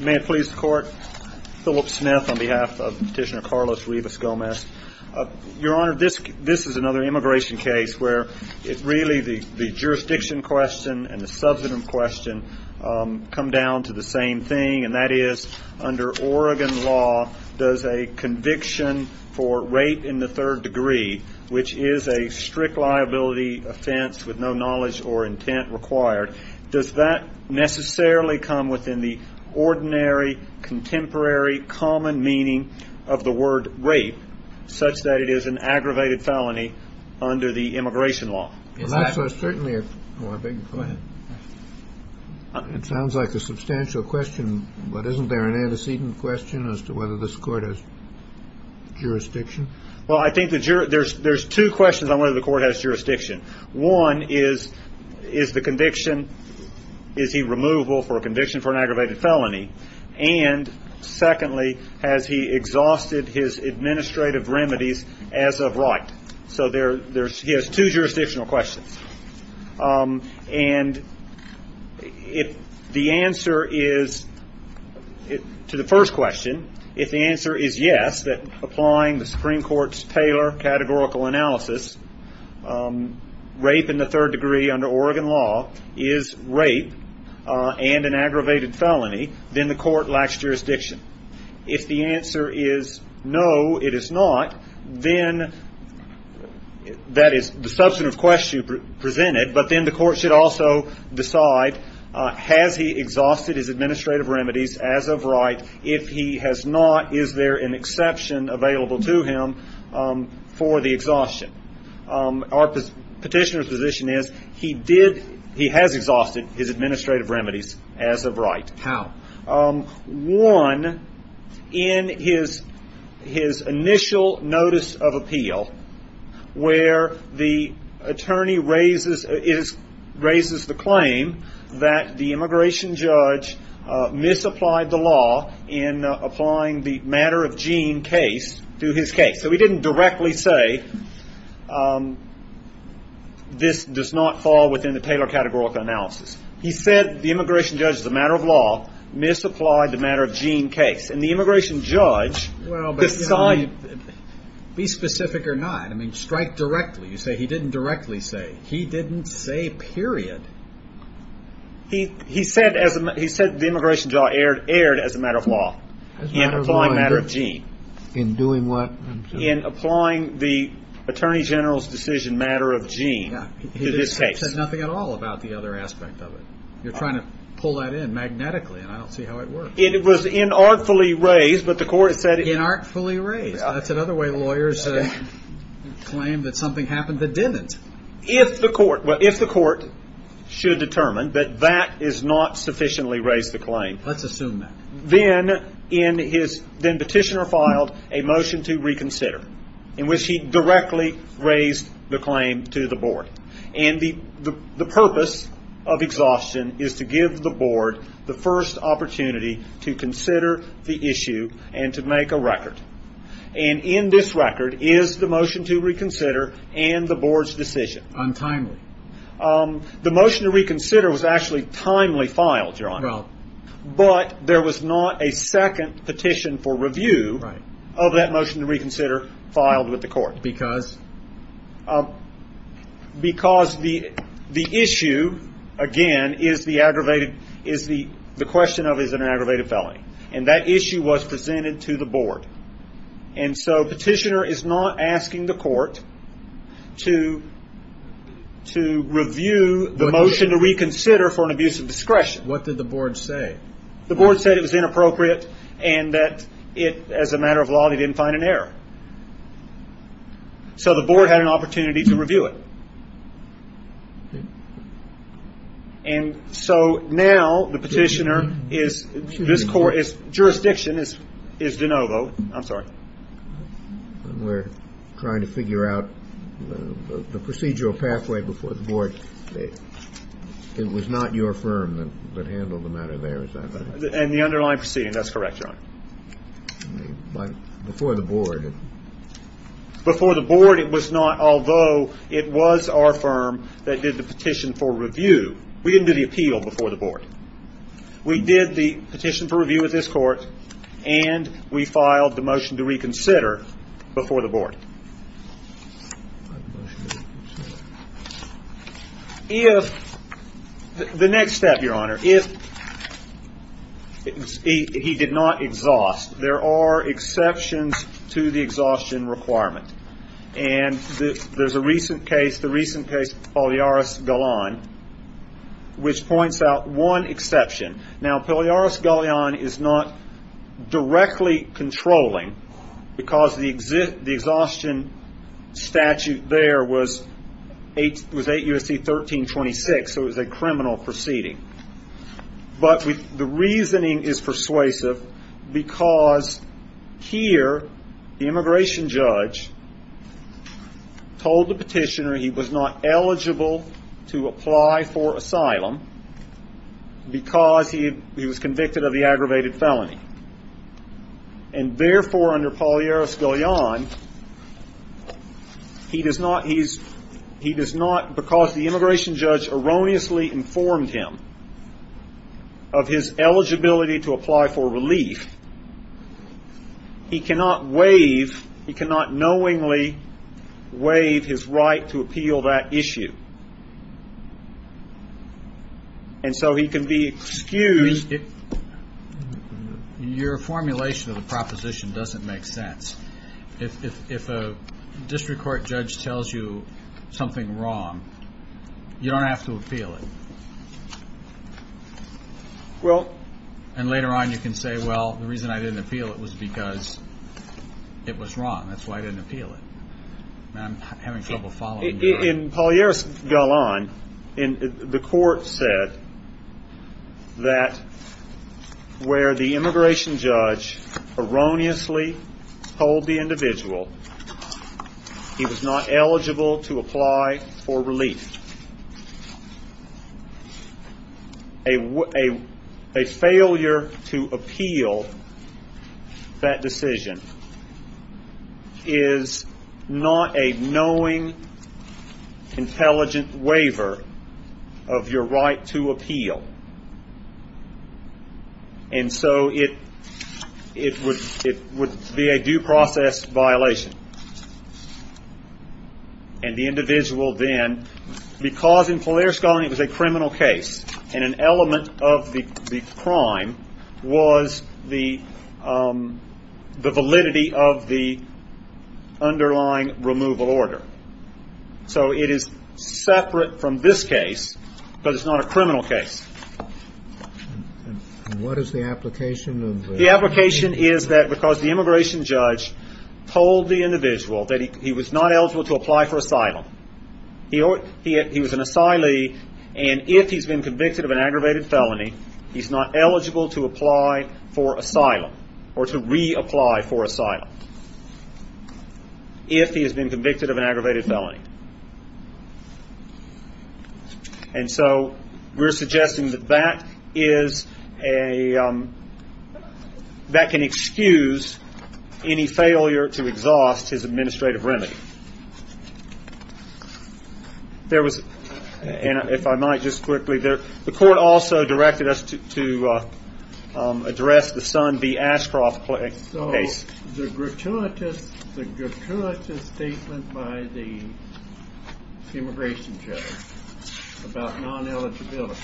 May it please the Court, Philip Smith on behalf of Petitioner Carlos Rivas-Gomez. Your Honor, this is another immigration case where really the jurisdiction question and the substantive question come down to the same thing, and that is under Oregon law does a conviction for rape in the third degree, which is a strict liability offense with no knowledge or intent required, does that necessarily come within the ordinary, contemporary, common meaning of the word rape, such that it is an aggravated felony under the immigration law? It sounds like a substantial question, but isn't there an antecedent question as to whether this Court has jurisdiction? Well, I think there's two questions on whether the Court has jurisdiction. One is, is the conviction, is he removable for a conviction for an aggravated felony? And secondly, has he exhausted his administrative remedies as of right? So he has two jurisdictional questions. And if the answer is, to the first question, if the answer is yes, that applying the Supreme Court's Taylor categorical analysis, rape in the third degree under Oregon law is rape and an aggravated felony, then the Court lacks jurisdiction. If the answer is no, it is not, then that is the substantive question presented, but then the Court should also decide, has he exhausted his administrative remedies as of right? If he has not, is there an exception available to him for the exhaustion? Our petitioner's position is he has exhausted his administrative remedies as of right. How? One, in his initial notice of appeal, where the attorney raises the claim that the immigration judge misapplied the law in applying the matter of Jean case to his case. So he didn't directly say, this does not fall within the Taylor categorical analysis. He said the immigration judge, the matter of law, misapplied the matter of Jean case. And the immigration judge decided. Well, be specific or not. I mean, strike directly. You say he didn't directly say. He didn't say, period. He said the immigration judge erred as a matter of law in applying the matter of Jean. In doing what? In applying the attorney general's decision, matter of Jean, to this case. He said nothing at all about the other aspect of it. You're trying to pull that in magnetically, and I don't see how it works. It was inartfully raised, but the court said. Inartfully raised. That's another way lawyers claim that something happened that didn't. If the court should determine that that has not sufficiently raised the claim. Let's assume that. Then petitioner filed a motion to reconsider in which he directly raised the claim to the board. And the purpose of exhaustion is to give the board the first opportunity to consider the issue and to make a record. And in this record is the motion to reconsider and the board's decision. Untimely. The motion to reconsider was actually timely filed, John. But there was not a second petition for review of that motion to reconsider filed with the court. Because? Because the issue, again, is the question of is it an aggravated felony. And that issue was presented to the board. And so petitioner is not asking the court to review the motion to reconsider for an abuse of discretion. What did the board say? The board said it was inappropriate and that as a matter of law they didn't find an error. So the board had an opportunity to review it. And so now the petitioner is this court is jurisdiction is is DeNovo. I'm sorry. We're trying to figure out the procedural pathway before the board. It was not your firm that handled the matter there. And the underlying proceeding. That's correct. Before the board. Before the board, it was not, although it was our firm that did the petition for review. We didn't do the appeal before the board. We did the petition for review with this court. And we filed the motion to reconsider before the board. If the next step, Your Honor, if he did not exhaust, there are exceptions to the exhaustion requirement. And there's a recent case, the recent case, Polyaris Golan, which points out one exception. Now, Polyaris Golan is not directly controlling because the exhaustion statute there was 8 U.S.C. 1326. So it was a criminal proceeding. But the reasoning is persuasive because here the immigration judge told the petitioner he was not eligible to apply for asylum. Because he was convicted of the aggravated felony. And therefore, under Polyaris Golan, he does not, because the immigration judge erroneously informed him of his eligibility to apply for relief. He cannot waive. He cannot knowingly waive his right to appeal that issue. And so he can be excused. Your formulation of the proposition doesn't make sense. If a district court judge tells you something wrong, you don't have to appeal it. And later on you can say, well, the reason I didn't appeal it was because it was wrong. That's why I didn't appeal it. And I'm having trouble following that. In Polyaris Golan, the court said that where the immigration judge erroneously told the individual he was not eligible to apply for relief. A failure to appeal that decision is not a knowing, intelligent waiver of your right to appeal. And so it would be a due process violation. And the individual then, because in Polyaris Golan it was a criminal case and an element of the crime was the validity of the underlying removal order. So it is separate from this case because it's not a criminal case. What is the application? The application is that because the immigration judge told the individual that he was not eligible to apply for asylum. He was an asylee. And if he's been convicted of an aggravated felony, he's not eligible to apply for asylum or to reapply for asylum if he has been convicted of an aggravated felony. And so we're suggesting that that is a, that can excuse any failure to exhaust his administrative remedy. There was, if I might just quickly, the court also directed us to address the Son B. Ashcroft case. The gratuitous, the gratuitous statement by the immigration judge about non-eligibility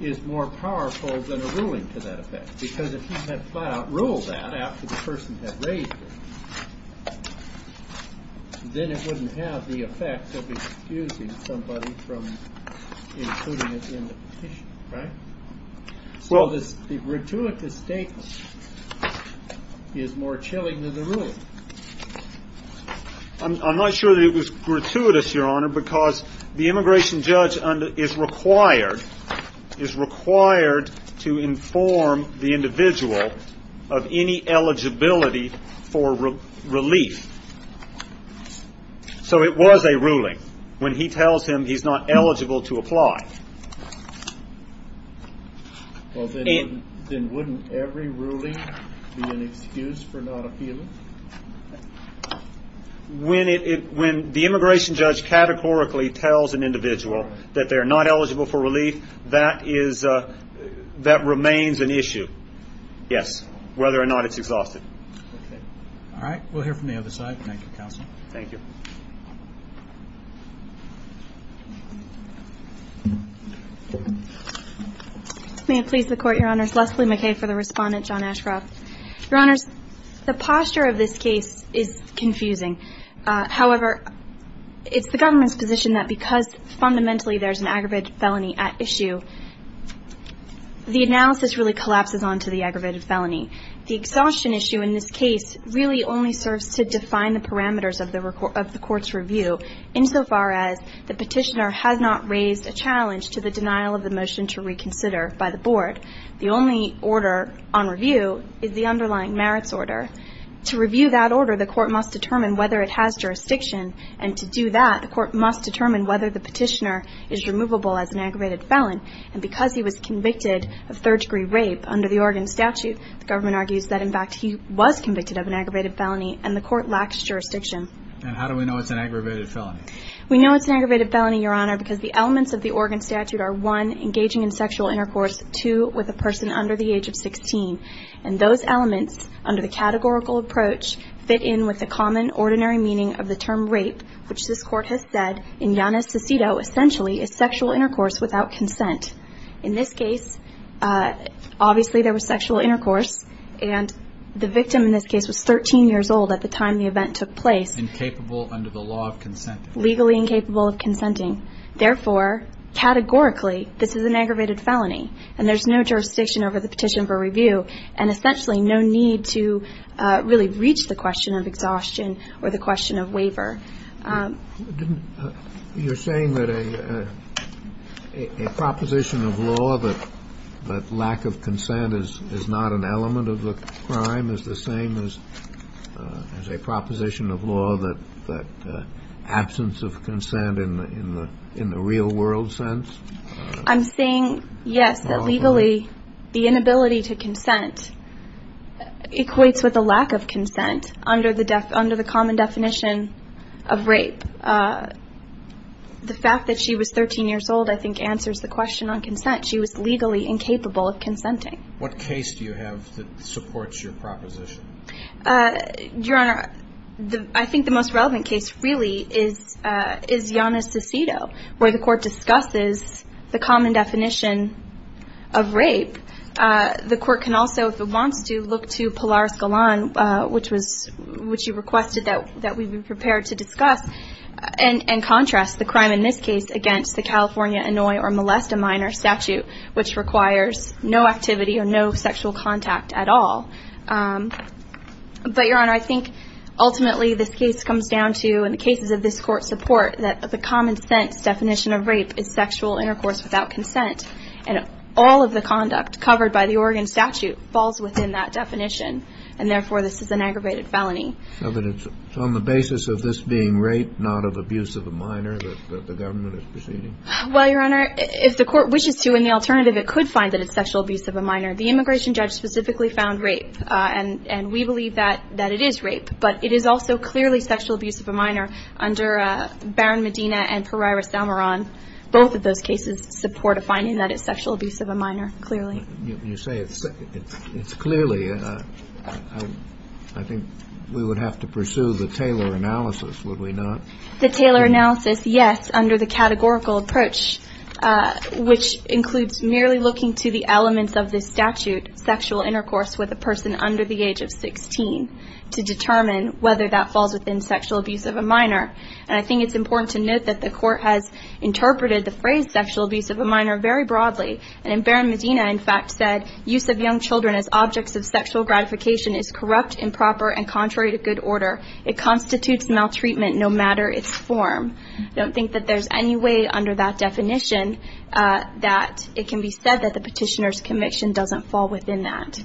is more powerful than a ruling to that effect. Because if he had flat out ruled that after the person had raised it, then it wouldn't have the effect of excusing somebody from including it in the petition. So this gratuitous statement is more chilling than the ruling. I'm not sure that it was gratuitous, Your Honor, because the immigration judge is required, is required to inform the individual of any eligibility for relief. So it was a ruling. When he tells him he's not eligible to apply. Well, then wouldn't every ruling be an excuse for not appealing? When it, when the immigration judge categorically tells an individual that they're not eligible for relief, that is, that remains an issue. Yes, whether or not it's exhaustive. All right. We'll hear from the other side. Thank you, Counsel. Thank you. May it please the Court, Your Honors. Leslie McKay for the respondent, John Ashcroft. Your Honors, the posture of this case is confusing. However, it's the government's position that because fundamentally there's an aggravated felony at issue, the analysis really collapses onto the aggravated felony. The exhaustion issue in this case really only serves to define the parameters of the Court's review, insofar as the petitioner has not raised a challenge to the denial of the motion to reconsider by the Board. The only order on review is the underlying merits order. To review that order, the Court must determine whether it has jurisdiction, and to do that, the Court must determine whether the petitioner is removable as an aggravated felon. And because he was convicted of third-degree rape under the Oregon statute, the government argues that, in fact, he was convicted of an aggravated felony, and the Court lacks jurisdiction. And how do we know it's an aggravated felony? We know it's an aggravated felony, Your Honor, because the elements of the Oregon statute are, one, engaging in sexual intercourse, two, with a person under the age of 16. And those elements, under the categorical approach, fit in with the common, ordinary meaning of the term rape, which this Court has said, in Janus de Cito, essentially is sexual intercourse without consent. In this case, obviously there was sexual intercourse, and the victim in this case was 13 years old at the time the event took place. Incapable under the law of consenting. Legally incapable of consenting. Therefore, categorically, this is an aggravated felony, and there's no jurisdiction over the petition for review, and essentially no need to really reach the question of exhaustion or the question of waiver. You're saying that a proposition of law that lack of consent is not an element of the crime is the same as a proposition of law that absence of consent in the real world sense? I'm saying, yes, that legally the inability to consent equates with a lack of consent under the common definition of rape. The fact that she was 13 years old, I think, answers the question on consent. She was legally incapable of consenting. What case do you have that supports your proposition? Your Honor, I think the most relevant case really is Janus de Cito, where the court discusses the common definition of rape. The court can also, if it wants to, look to Pilar Escalon, which you requested that we be prepared to discuss, and contrast the crime in this case against the California annoy or molest a minor statute, which requires no activity or no sexual contact at all. But, Your Honor, I think ultimately this case comes down to, in the cases of this court support, that the common sense definition of rape is sexual intercourse without consent. And all of the conduct covered by the Oregon statute falls within that definition, and therefore this is an aggravated felony. So it's on the basis of this being rape, not of abuse of a minor, that the government is proceeding? Well, Your Honor, if the court wishes to, and the alternative it could find that it's sexual abuse of a minor, the immigration judge specifically found rape, and we believe that it is rape. But it is also clearly sexual abuse of a minor under Barron-Medina and Pereira-Salmaron. Both of those cases support a finding that it's sexual abuse of a minor, clearly. You say it's clearly. I think we would have to pursue the Taylor analysis, would we not? The Taylor analysis, yes, under the categorical approach, which includes merely looking to the elements of this statute, sexual intercourse with a person under the age of 16, to determine whether that falls within sexual abuse of a minor. And I think it's important to note that the court has interpreted the phrase sexual abuse of a minor very broadly. And in Barron-Medina, in fact, said, use of young children as objects of sexual gratification is corrupt, improper, and contrary to good order. It constitutes maltreatment no matter its form. I don't think that there's any way under that definition that it can be said that the petitioner's conviction doesn't fall within that.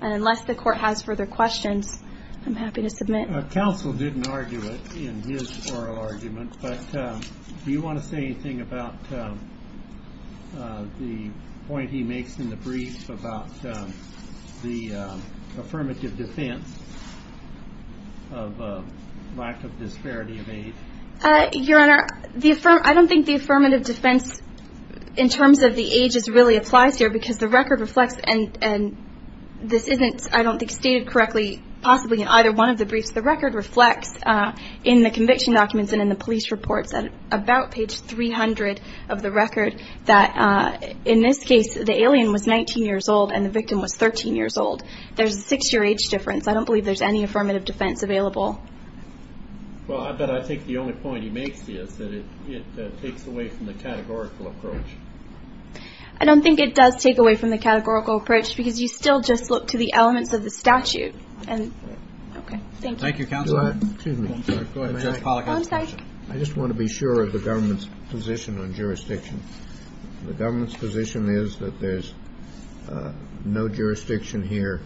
Unless the court has further questions, I'm happy to submit. Counsel didn't argue it in his oral argument, but do you want to say anything about the point he makes in the brief about the affirmative defense of lack of disparity of age? Your Honor, I don't think the affirmative defense in terms of the age really applies here, because the record reflects, and this isn't, I don't think, stated correctly, possibly in either one of the briefs. The record reflects in the conviction documents and in the police reports, about page 300 of the record, that in this case the alien was 19 years old and the victim was 13 years old. There's a six-year age difference. I don't believe there's any affirmative defense available. Well, but I think the only point he makes is that it takes away from the categorical approach. I don't think it does take away from the categorical approach, because you still just look to the elements of the statute. Thank you. Thank you, Counsel. Go ahead. I'm sorry. I just want to be sure of the government's position on jurisdiction. The government's position is that there's no jurisdiction here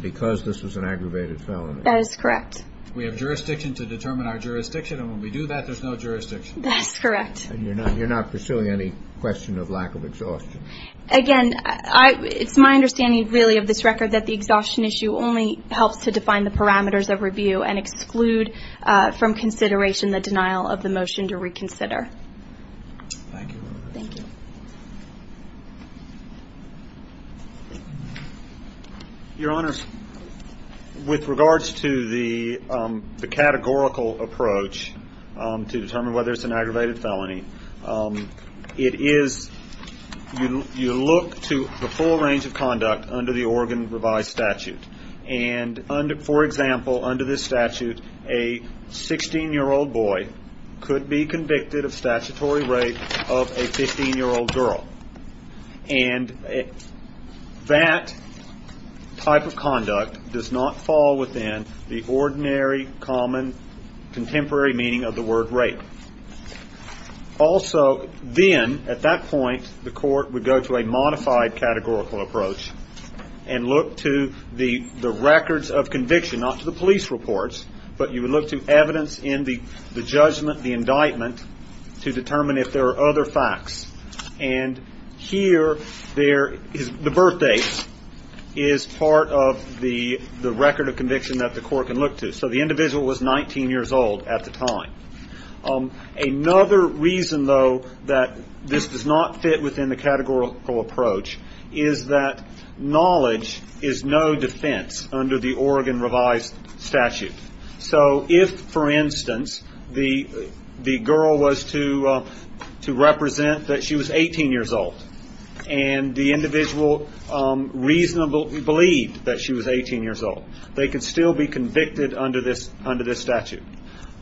because this was an aggravated felony. That is correct. We have jurisdiction to determine our jurisdiction, and when we do that, there's no jurisdiction. That's correct. And you're not pursuing any question of lack of exhaustion. Again, it's my understanding, really, of this record, that the exhaustion issue only helps to define the parameters of review and exclude from consideration the denial of the motion to reconsider. Thank you. Thank you. Your Honors, with regards to the categorical approach to determine whether it's an aggravated felony, it is you look to the full range of conduct under the Oregon revised statute. And, for example, under this statute, a 16-year-old boy could be convicted of statutory rape of a 15-year-old girl. And that type of conduct does not fall within the ordinary, common, contemporary meaning of the word rape. Also, then, at that point, the court would go to a modified categorical approach and look to the records of conviction, not to the police reports, but you would look to evidence in the judgment, the indictment, to determine if there are other facts. And here, the birth date is part of the record of conviction that the court can look to. So the individual was 19 years old at the time. Another reason, though, that this does not fit within the categorical approach is that knowledge is no defense under the Oregon revised statute. So if, for instance, the girl was to represent that she was 18 years old and the individual reasonably believed that she was 18 years old, they could still be convicted under this statute.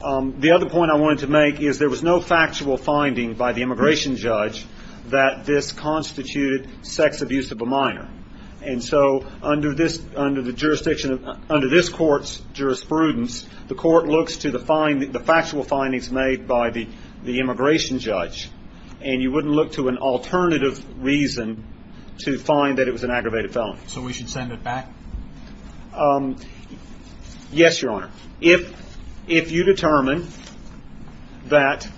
The other point I wanted to make is there was no factual finding by the immigration judge that this constituted sex abuse of a minor. And so under this court's jurisprudence, the court looks to the factual findings made by the immigration judge, and you wouldn't look to an alternative reason to find that it was an aggravated felony. So we should send it back? Yes, Your Honor. Now, if you determine that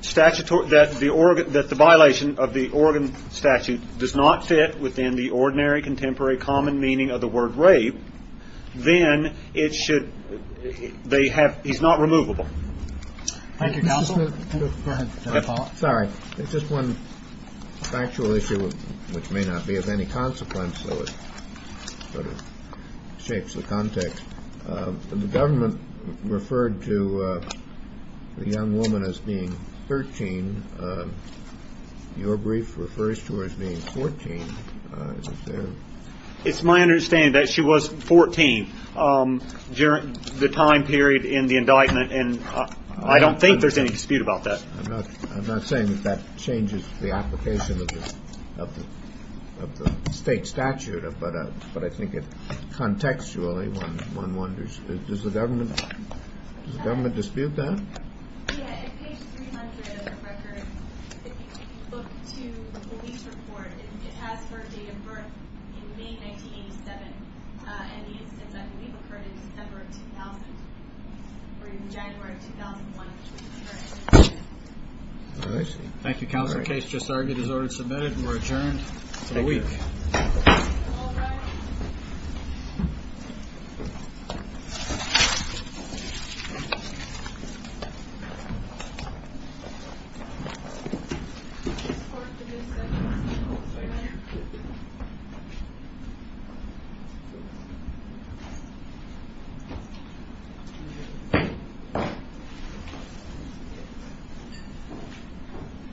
the violation of the Oregon statute does not fit within the ordinary, contemporary, common meaning of the word rape, then he's not removable. Thank you, counsel. Go ahead. Sorry. It's just one factual issue, which may not be of any consequence, though it sort of shapes the context. The government referred to the young woman as being 13. Your brief refers to her as being 14. It's my understanding that she was 14 during the time period in the indictment, and I don't think there's any dispute about that. I'm not saying that that changes the application of the state statute, but I think contextually one wonders. Does the government dispute that? Yeah, in page 300 of the record, if you look to the police report, it has her date of birth in May 1987, and the incident, I believe, occurred in December of 2000, or in January of 2001, which would be her age. I see. Thank you, counsel. The case just argued is ordered and submitted, and we're adjourned for the week. All rise. Thank you.